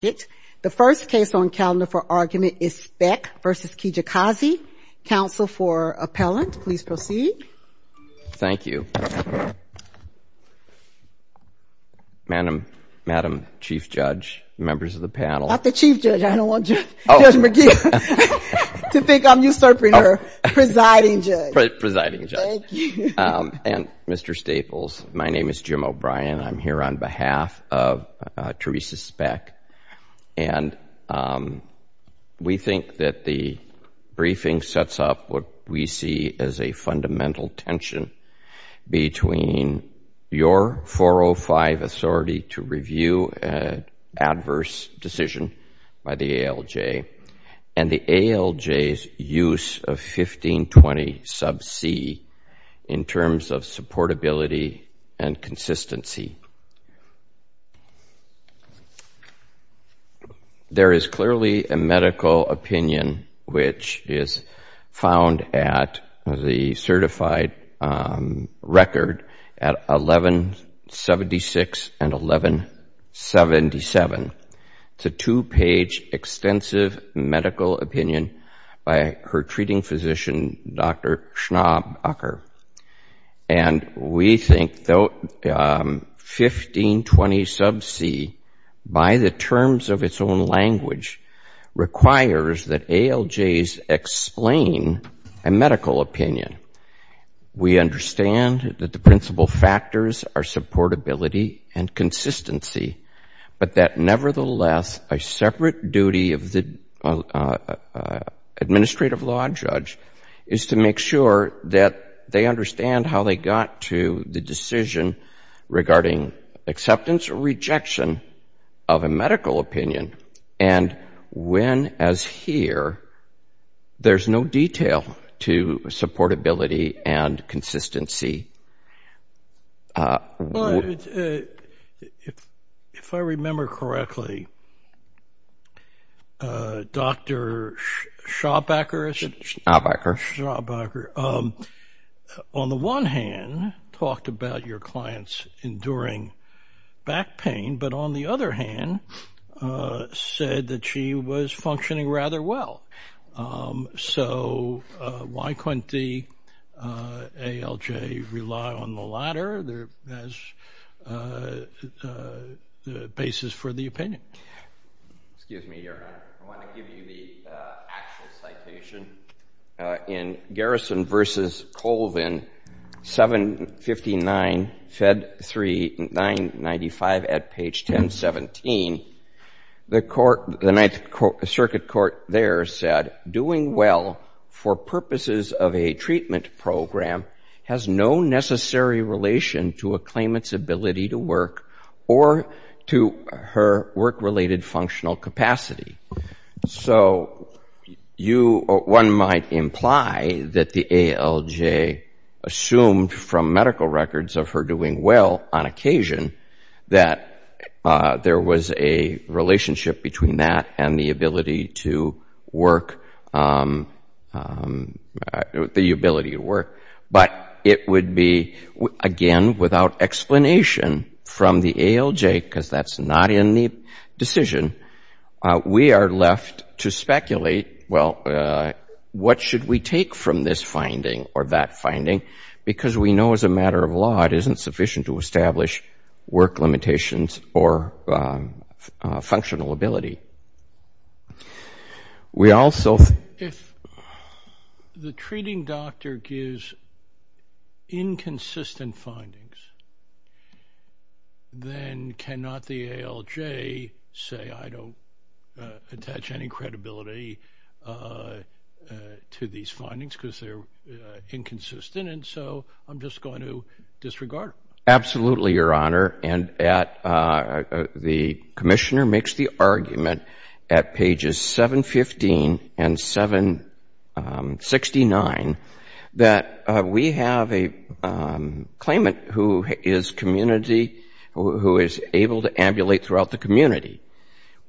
The first case on calendar for argument is Speck v. Kijakazi. Counsel for appellant, please proceed. Thank you. Madam Chief Judge, members of the panel. Not the Chief Judge. I don't want Judge McGee to think I'm usurping her. Presiding Judge. Presiding Judge. Thank you. And Mr. Staples, my name is Jim O'Brien. I'm here on behalf of Teresa Speck. And we think that the briefing sets up what we see as a fundamental tension between your 405 authority to review an adverse decision by the ALJ and the ALJ's use of 1520 sub C in terms of supportability and consistency. There is clearly a medical opinion which is found at the certified record at 1176 and 1177. It's a two-page extensive medical opinion by her treating physician, Dr. Schnobb Ucker. And we think 1520 sub C by the terms of its own language requires that ALJs explain a medical opinion. We understand that the principal factors are supportability and consistency, but that nevertheless a separate duty of the administrative law judge is to make sure that they understand how they got to the decision regarding acceptance or rejection of a medical opinion. And when, as here, there's no detail to supportability and consistency. If I remember correctly, Dr. Schnobb Ucker, on the one hand, talked about your client's enduring back pain, but on the other hand, said that she was functioning rather well. So why couldn't the ALJ rely on the latter? Excuse me, Your Honor. I want to give you the actual citation in Garrison v. Colvin, 759 Fed 3995 at page 1017. The circuit court there said, doing well for purposes of a treatment program has no necessary relation to a claimant's ability to work or to her work-related functional capacity. So one might imply that the ALJ assumed from medical records of her doing well on occasion that there was a relationship between that and the ability to work, the ability to work. But it would be, again, without explanation from the ALJ, because that's not in the decision. We are left to speculate, well, what should we take from this finding or that finding, because we know as a matter of law it isn't sufficient to establish work limitations or functional ability. If the treating doctor gives inconsistent findings, then cannot the ALJ say, I don't attach any credibility to these findings, because they're inconsistent, and so I'm just going to disregard them? Absolutely, Your Honor, and the commissioner makes the argument at pages 715 and 769 that we have a claimant who is community, who is able to ambulate throughout the community.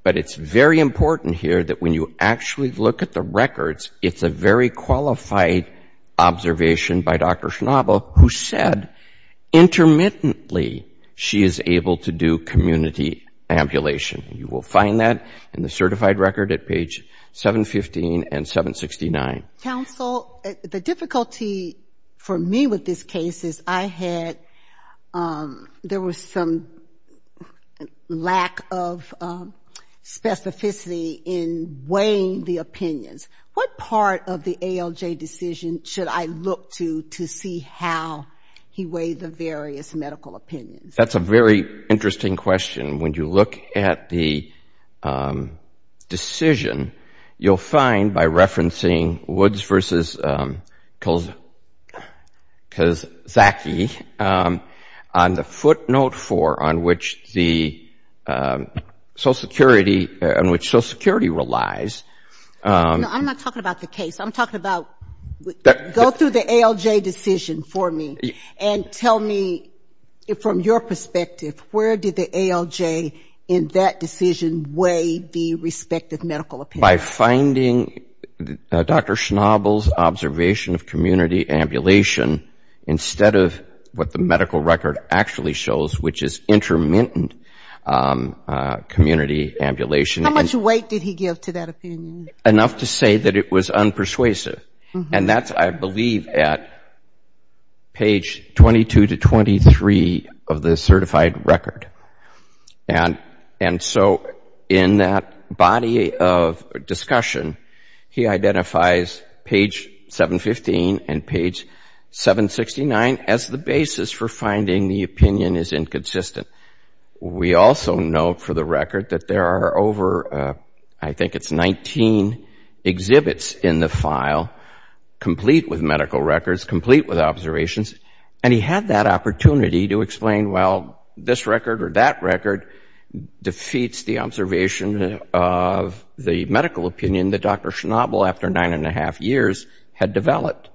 But it's very important here that when you actually look at the records, it's a very qualified observation by Dr. Schnabel who said intermittently she is able to do community ambulation. You will find that in the certified record at page 715 and 769. Counsel, the difficulty for me with this case is I had, there was some lack of specificity in weighing the opinions. What part of the ALJ decision should I look to to see how he weighed the various medical opinions? That's a very interesting question. When you look at the decision, you'll find by referencing Woods versus Kozacki on the footnote 4 on which the social security relies, I'm not talking about the case, I'm talking about go through the ALJ decision for me and tell me from your perspective, where did the ALJ in that decision weigh the respective medical opinion? By finding Dr. Schnabel's observation of community ambulation instead of what the medical record actually shows, which is intermittent community ambulation. How much weight did he give to that opinion? Enough to say that it was unpersuasive. And that's, I believe, at page 22 to 23 of the certified record. And so in that body of discussion, he identifies page 715 and page 769 as the basis for finding the opinion is inconsistent. We also note for the record that there are over, I think it's 19 exhibits in the file, complete with medical records, complete with observations, and he had that opportunity to explain, well, this record or that record defeats the observation of the medical opinion that Dr. Schnabel, after nine and a half years, had developed.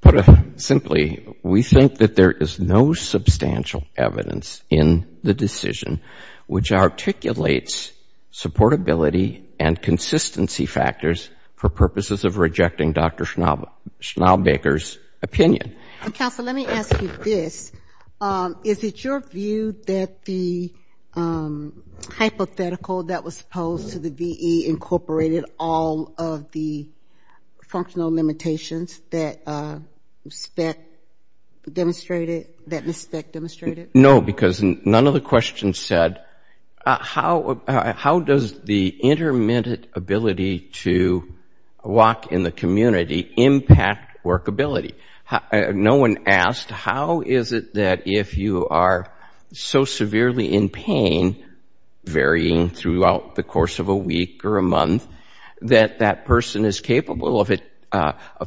Put simply, we think that there is no substantial evidence in the decision which articulates supportability and consistency factors for purposes of rejecting Dr. Schnabel's opinion. Counsel, let me ask you this. Is it your view that the hypothetical that was opposed to the VE incorporated all of the functional limitations that Ms. Speck demonstrated? No, because none of the questions said how does the intermittent ability to walk in the community impact workability? No one asked how is it that if you are so severely in pain, varying throughout the course of a week or a month, that that person is capable of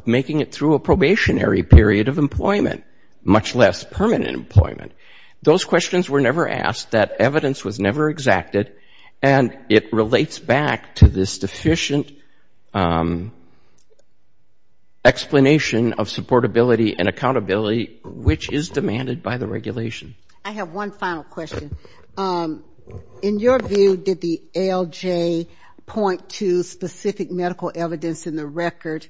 making it through a probationary period of employment, much less permanent employment? Those questions were never asked, that evidence was never exacted, and it relates back to this deficient explanation of supportability and accountability which is demanded by the regulation. I have one final question. Do you use specific medical evidence in the record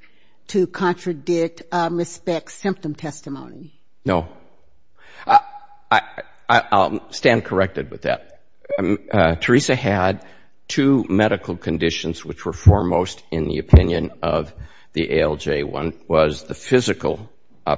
to contradict Ms. Speck's symptom testimony? No. I'll stand corrected with that. Teresa had two medical conditions which were foremost in the opinion of the ALJ. One was the physical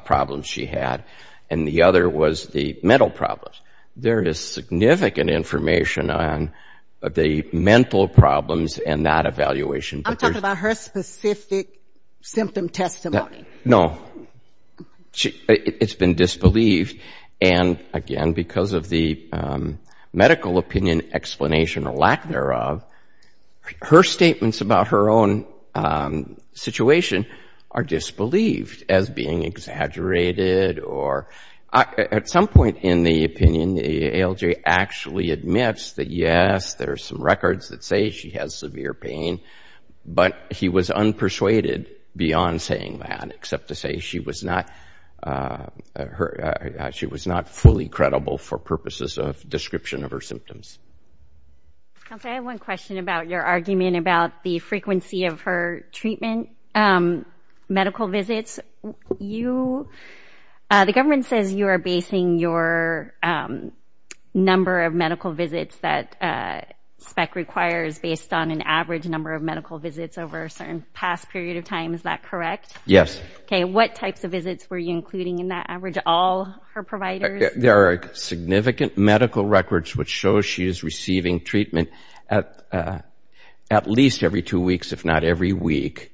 problems she had, and the other was the mental problems. There is significant information on the mental problems in that evaluation. I'm talking about her specific symptom testimony. No. It's been disbelieved, and again because of the medical opinion explanation or lack thereof, her statements about her own situation are disbelieved as being exaggerated or at some point in the opinion the ALJ actually admits that yes, there are some records that say she has severe pain, but he was unpersuaded beyond saying that, except to say she was not fully credible for purposes of description of her symptoms. I have one question about your argument about the frequency of her treatment, medical visits. The government says you are basing your number of medical visits that Speck requires based on an average number of medical visits over a certain past period of time. Is that correct? Yes. What types of visits were you including in that average? All her providers? There are significant medical records which show she is receiving treatment at least every two weeks, if not every week.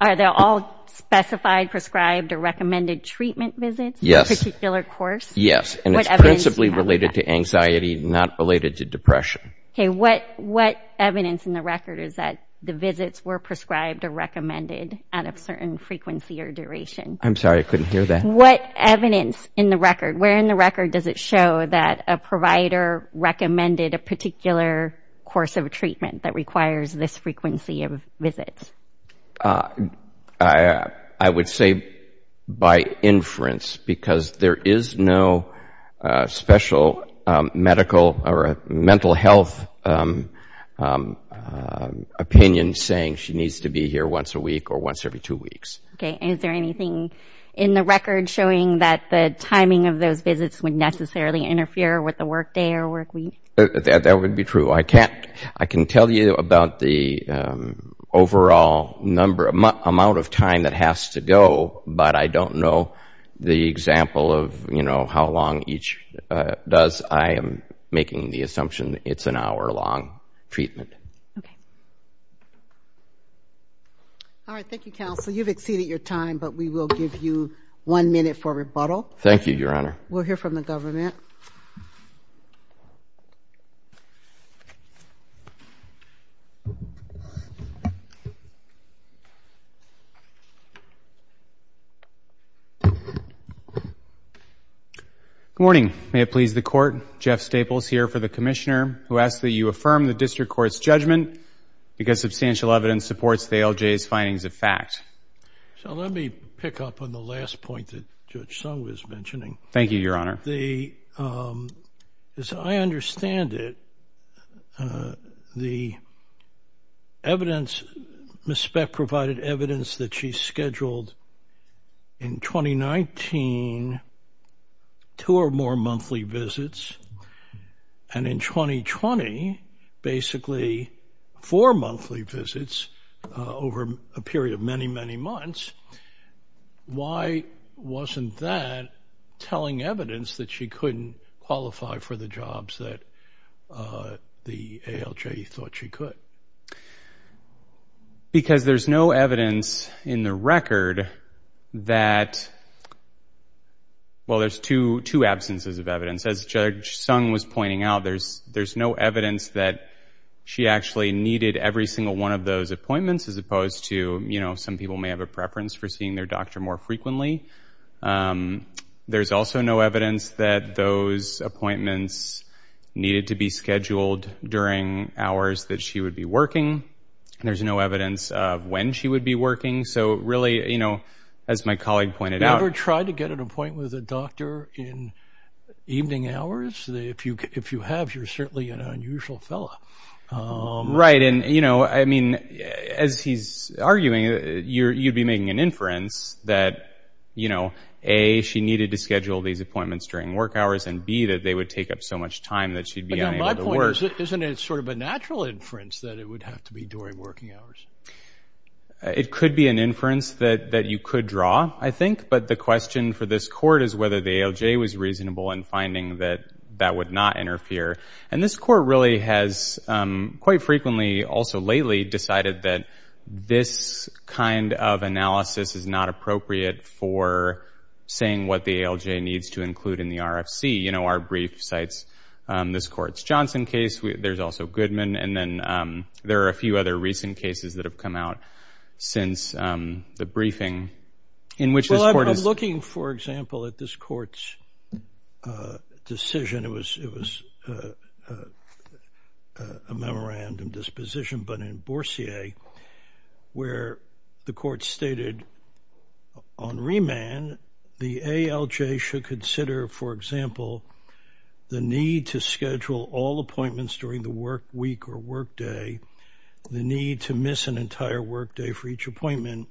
Are they all specified, prescribed, or recommended treatment visits for a particular course? Yes, and it's principally related to anxiety, not related to depression. What evidence in the record is that the visits were prescribed or recommended at a certain frequency or duration? I'm sorry, I couldn't hear that. Where in the record does it show that a provider recommended a particular course of treatment that requires this frequency of visits? I would say by inference, because there is no special medical or mental health opinion saying she needs to be here once a week or once every two weeks. Okay, and is there anything in the record showing that the timing of those visits would necessarily interfere with the work day or work week? That would be true. There is an amount of time that has to go, but I don't know the example of how long each does. I am making the assumption it's an hour-long treatment. All right, thank you, counsel. You've exceeded your time, but we will give you one minute for rebuttal. Good morning. May it please the Court, Jeff Staples here for the Commissioner, who asks that you affirm the District Court's judgment because substantial evidence supports the ALJ's findings of fact. So let me pick up on the last point that Judge Sung was mentioning. Thank you, Your Honor. As I understand it, the evidence, Ms. Speck provided evidence that she scheduled in 2019 two or more monthly visits, and in 2020, basically four monthly visits over a period of many, many months. Why wasn't that telling evidence that she couldn't qualify for the jobs that the ALJ thought she could? Because there's no evidence in the record that, well, there's two absences of evidence. As Judge Sung was pointing out, there's no evidence that she actually needed every single one of those appointments, as opposed to, you know, some people may have a preference for that. They may have a preference for seeing their doctor more frequently. There's also no evidence that those appointments needed to be scheduled during hours that she would be working. There's no evidence of when she would be working. So really, you know, as my colleague pointed out... Never try to get an appointment with a doctor in evening hours. If you have, you're certainly an unusual fellow. Right. And, you know, I mean, as he's arguing, you'd be making an inference that, you know, A, she needed to schedule these appointments during work hours, and B, that they would take up so much time that she'd be unable to work. But my point is, isn't it sort of a natural inference that it would have to be during working hours? It could be an inference that you could draw, I think. But the question for this court is whether the ALJ was reasonable in finding that that would not interfere. And this court really has quite frequently, also lately, decided that this kind of analysis is not appropriate for saying what the ALJ needs to include in the RFC. You know, our brief cites this court's Johnson case. There's also Goodman. And then there are a few other recent cases that have come out since the briefing in which this court has... Well, I'm looking, for example, at this court's decision. It was a memorandum disposition, but in Boursier, where the court stated, on remand, the ALJ should consider, for example, the need to schedule all appointments during the work week hours. Or work day, the need to miss an entire work day for each appointment,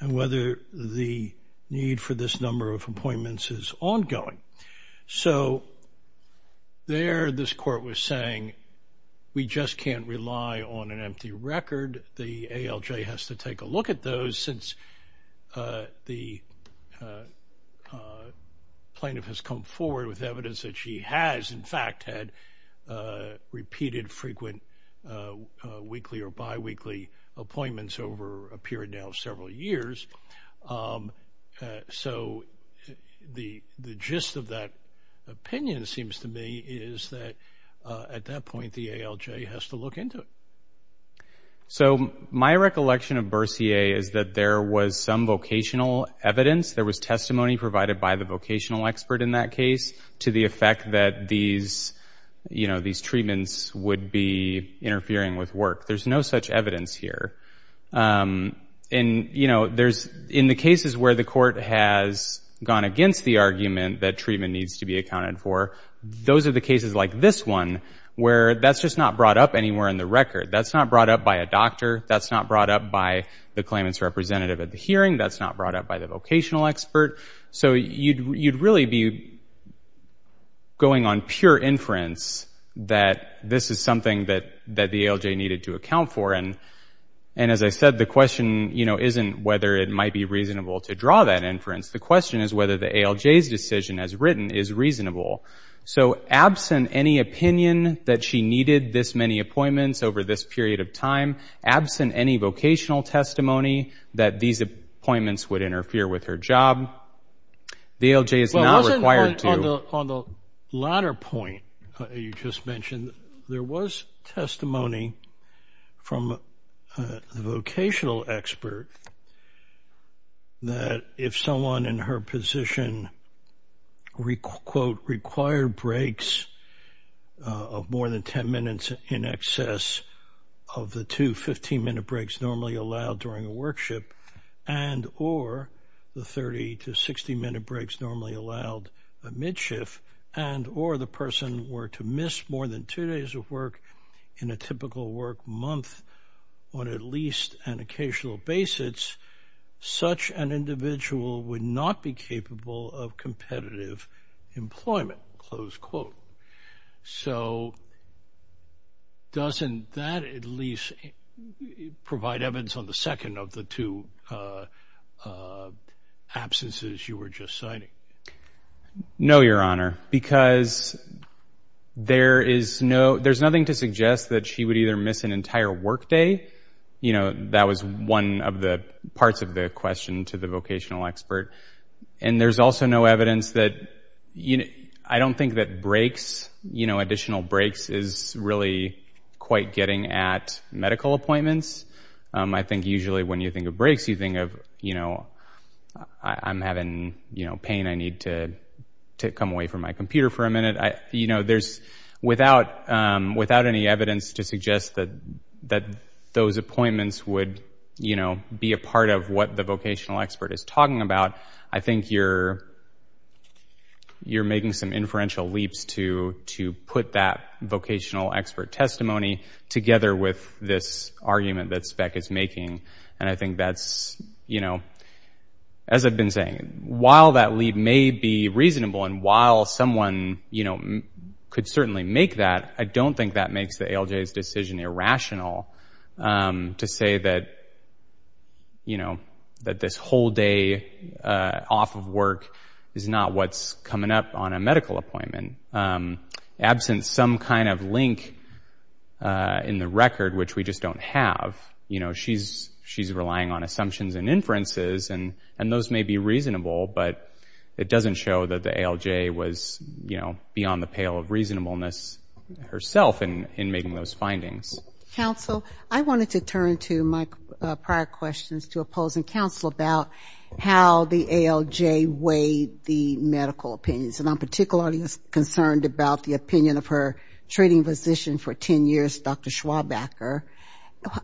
and whether the need for this number of appointments is ongoing. So there, this court was saying, we just can't rely on an empty record. The ALJ has to take a look at those since the plaintiff has come forward with evidence that she has, in fact, had repeated frequent appointments. Weekly or biweekly appointments over a period now of several years. So the gist of that opinion, it seems to me, is that at that point, the ALJ has to look into it. So my recollection of Boursier is that there was some vocational evidence. There was testimony provided by the vocational expert in that case to the effect that these, you know, these treatments would be, you know, interfering with work. There's no such evidence here. And, you know, there's, in the cases where the court has gone against the argument that treatment needs to be accounted for, those are the cases like this one, where that's just not brought up anywhere in the record. That's not brought up by a doctor. That's not brought up by the claimant's representative at the hearing. That's not brought up by the vocational expert. So you'd really be going on pure inference that this is something that the ALJ needed to account for. And as I said, the question, you know, isn't whether it might be reasonable to draw that inference. The question is whether the ALJ's decision as written is reasonable. So absent any opinion that she needed this many appointments over this period of time, absent any vocational testimony that these appointments would interfere with her job, the ALJ is not required to... On the latter point you just mentioned, there was testimony from the vocational expert that if someone in her position, quote, required breaks of more than 10 minutes in excess of the two 15-minute breaks normally allowed during a workship, and or the 30 to 60-minute breaks normally allowed a mid-shift, and or the person were to miss more than two days of work in a typical work month on at least an occasional basis, such an individual would not be capable of competitive employment, close quote. So doesn't that at least provide evidence on the second of the two questions? The two absences you were just citing. No, Your Honor, because there is no, there's nothing to suggest that she would either miss an entire work day, you know, that was one of the parts of the question to the vocational expert. And there's also no evidence that, you know, I don't think that breaks, you know, additional breaks is really quite getting at medical appointments. I think usually when you think of breaks, you think of, you know, I'm having, you know, pain, I need to come away from my computer for a minute. You know, there's, without any evidence to suggest that those appointments would, you know, be a part of what the vocational expert is talking about, I think you're making some inferential leaps to put that vocational expert testimony together with this argument that Speck is making. And I think that's, you know, as I've been saying, while that leap may be reasonable and while someone, you know, could certainly make that, I don't think that makes the ALJ's decision irrational to say that, you know, that this whole day off of work is not what's coming up on a medical appointment. Absent some kind of link in the record, which we just don't have, you know, she's relying on assumptions and inferences, and those may be reasonable, but it doesn't show that the ALJ was, you know, beyond the pale of reasonableness herself in making those findings. Counsel, I wanted to turn to my prior questions to oppose and counsel about how the ALJ weighed the medical opinions. And I'm particularly concerned about the opinion of her treating physician for 10 years, Dr. Schwabacher.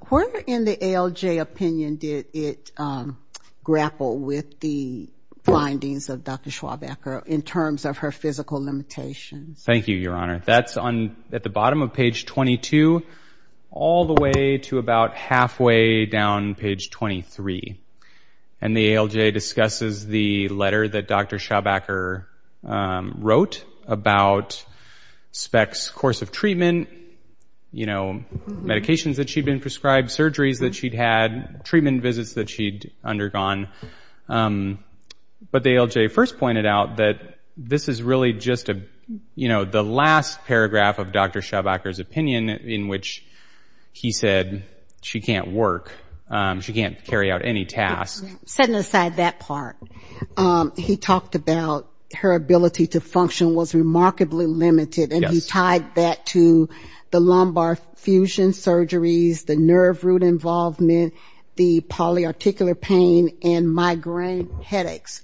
Where in the ALJ opinion did it grapple with the findings of Dr. Schwabacher in terms of her physical limitations? Thank you, Your Honor. That's at the bottom of page 22 all the way to about halfway down page 23. And the ALJ discusses the letter that Dr. Schwabacher wrote about Speck's course of treatment, you know, medications that she'd been prescribed, surgeries that she'd had, treatment visits that she'd undergone. But the ALJ first pointed out that this is really just a, you know, the last paragraph of Dr. Schwabacher's opinion in which he said she can't work, she can't carry out any tasks. Setting aside that part, he talked about her ability to function was remarkably limited, and he tied that to the lumbar fusion surgeries, the nerve root involvement, the polyarticular pain, and migraine headaches.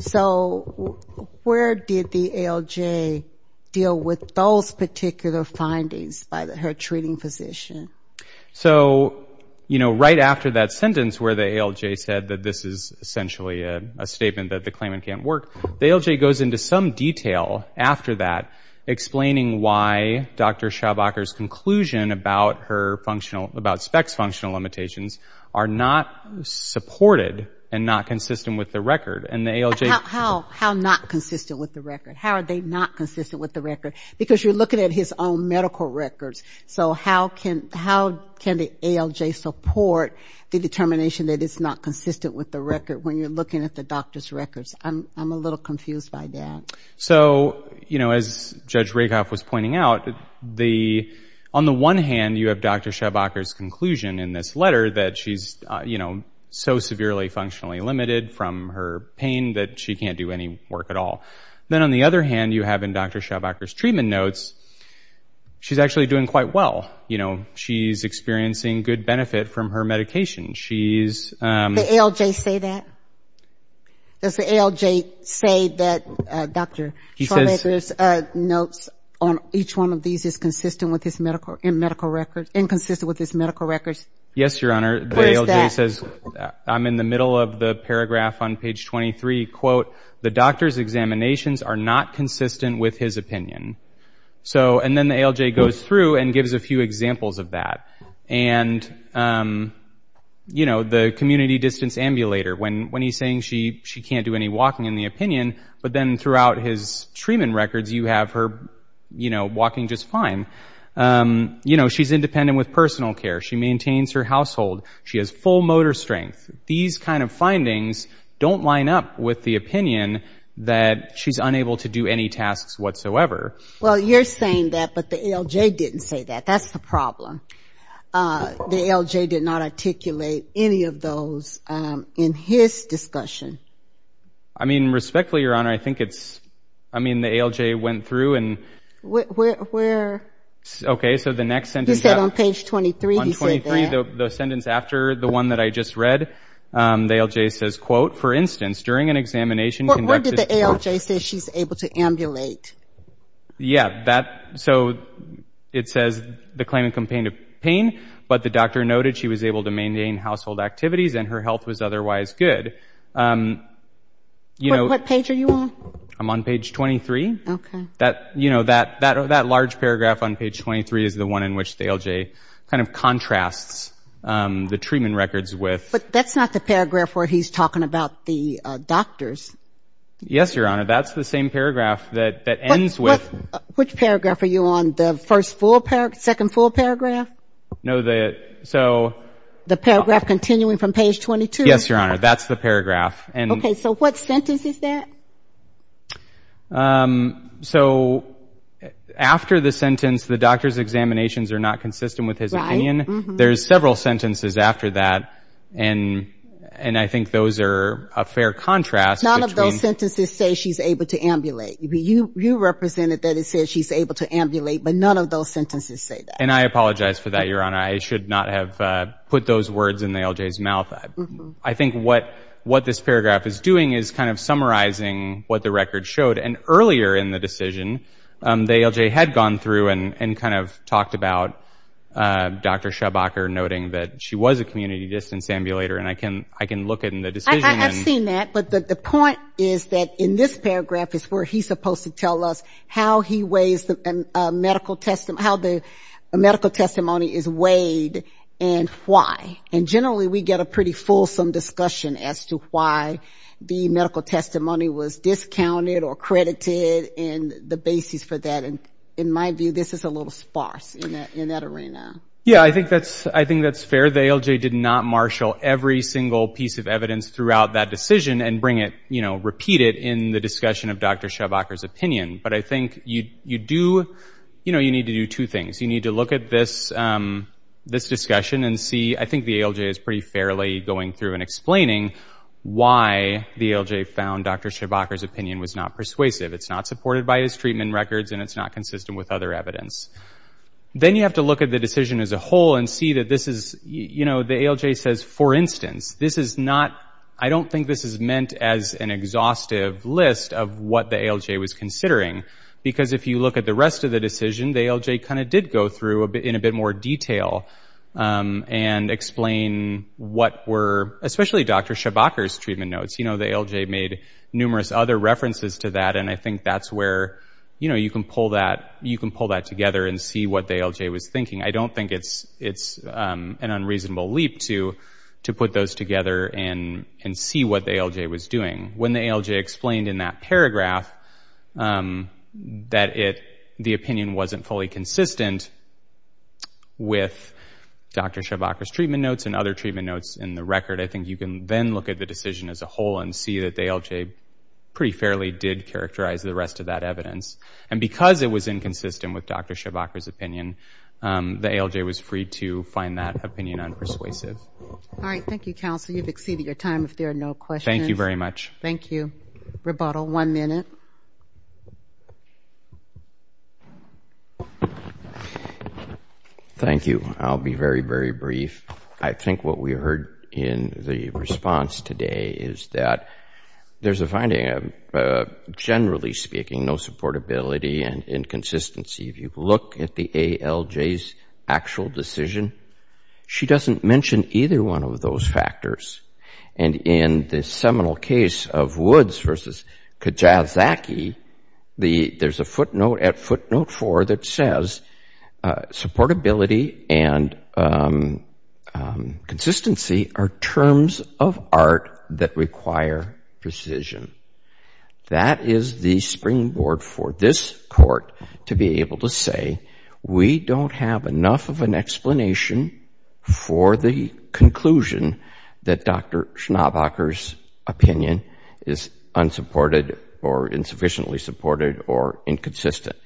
So where did the ALJ deal with those particular findings by her treating physician? So, you know, right after that sentence where the ALJ said that this is essentially a statement that the claimant can't work, the ALJ goes into some detail after that explaining why Dr. Schwabacher's conclusion about her treatment was not consistent with the record. And the ALJ... How not consistent with the record? How are they not consistent with the record? Because you're looking at his own medical records. So how can the ALJ support the determination that it's not consistent with the record when you're looking at the doctor's records? I'm a little confused by that. So, you know, as Judge Rakoff was pointing out, on the one hand, you have Dr. Schwabacher, and on the other hand, you have Dr. Schwabacher. So you have Dr. Schwabacher's conclusion in this letter that she's, you know, so severely functionally limited from her pain that she can't do any work at all. Then on the other hand, you have in Dr. Schwabacher's treatment notes, she's actually doing quite well. You know, she's experiencing good benefit from her medication. Does the ALJ say that? Does the ALJ say that Dr. Schwabacher's notes on each one of these is consistent with his medical records? Yes, Your Honor. The ALJ says, I'm in the middle of the paragraph on page 23, quote, the doctor's examinations are not consistent with his opinion. So, and then the ALJ goes through and gives a few examples of that. And, you know, the community distance ambulator, when he's saying she can't do any walking in the opinion, but then throughout his treatment records, you have her, you know, walking just fine. You know, she's independent with personal care. She maintains her household. She has full motor strength. These kind of findings don't line up with the opinion that she's unable to do any tasks whatsoever. Well, you're saying that, but the ALJ didn't say that. That's the problem. The ALJ did not articulate any of those in his discussion. I mean, respectfully, Your Honor, I think it's, I mean, the ALJ went through and... Where? Okay, so the next sentence... He said on page 23, he said that. On page 23, the sentence after the one that I just read, the ALJ says, quote, for instance, during an examination conducted... Where did the ALJ say she's able to ambulate? Yeah, that, so it says the claimant complained of pain, but the doctor noted she was able to maintain household activities and her health was otherwise good. What page are you on? I'm on page 23. That large paragraph on page 23 is the one in which the ALJ kind of contrasts the treatment records with... But that's not the paragraph where he's talking about the doctors. Yes, Your Honor, that's the same paragraph that ends with... Which paragraph are you on, the first full paragraph, second full paragraph? No, the, so... The paragraph continuing from page 22. Okay, so what sentence is that? So, after the sentence, the doctor's examinations are not consistent with his opinion. There's several sentences after that, and I think those are a fair contrast between... None of those sentences say she's able to ambulate. You represented that it says she's able to ambulate, but none of those sentences say that. And I apologize for that, Your Honor. I should not have put those words in the ALJ's mouth. I think what this paragraph is doing is kind of summarizing what the record showed. And earlier in the decision, the ALJ had gone through and kind of talked about Dr. Schabacher, noting that she was a community distance ambulator, and I can look in the decision and... I have seen that, but the point is that in this paragraph is where he's supposed to tell us how he weighs the medical test, how the medical testimony is weighed, and why. And generally, we get a pretty fulsome discussion as to why the medical testimony was discounted or credited and the basis for that, and in my view, this is a little sparse in that arena. Yeah, I think that's fair. The ALJ did not marshal every single piece of evidence throughout that decision and bring it, you know, repeat it in the discussion of Dr. Schabacher's opinion. But I think you do, you know, you need to do two things. You need to look at this discussion and see, I think the ALJ is pretty fairly going through and explaining why the ALJ found Dr. Schabacher's opinion was not persuasive. It's not supported by his treatment records and it's not consistent with other evidence. Then you have to look at the decision as a whole and see that this is, you know, the ALJ says, for instance, this is not, I don't think this is meant as an exhaustive list of what the ALJ was considering, because if you look at the rest of the decision, the ALJ kind of did go through in a bit more detail and explain what were, especially Dr. Schabacher's treatment notes. You know, the ALJ made numerous other references to that, and I think that's where, you know, you can pull that, you can pull that together and see what the ALJ was thinking. I don't think it's an unreasonable leap to put those together and see what the ALJ was doing. When the ALJ explained in that paragraph that the opinion wasn't fully consistent with Dr. Schabacher's treatment notes and other treatment notes in the record, I think you can then look at the decision as a whole and see that the ALJ pretty fairly did characterize the rest of that evidence. And the ALJ was free to find that opinion unpersuasive. All right, thank you, counsel. You've exceeded your time. If there are no questions. Thank you very much. Thank you. I'll be very, very brief. I think what we heard in the response today is that there's a finding of, generally speaking, no actual decision. She doesn't mention either one of those factors. And in the seminal case of Woods v. Kajazaki, there's a footnote at footnote 4 that says, supportability and consistency are terms of art that require precision. That is the springboard for this Court to be able to say, we don't have enough evidence to support that decision. We don't have enough of an explanation for the conclusion that Dr. Schabacher's opinion is unsupported or insufficiently supported or inconsistent.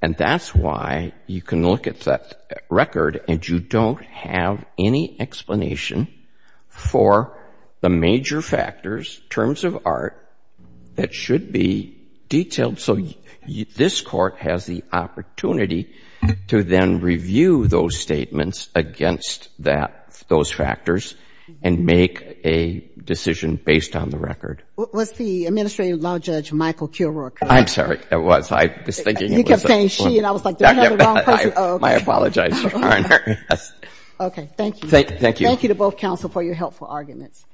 And that's why you can look at that record and you don't have any explanation for the major factors, terms of art, that should be detailed. So this Court has the opportunity to then review those statements against those factors and make a decision based on the record. Was the Administrative Law Judge Michael Kilroy correct? I'm sorry, I was. I was thinking it was. I was saying she and I was like, you have the wrong person. I apologize, Your Honor. Okay, thank you. Thank you to both counsel for your helpful arguments.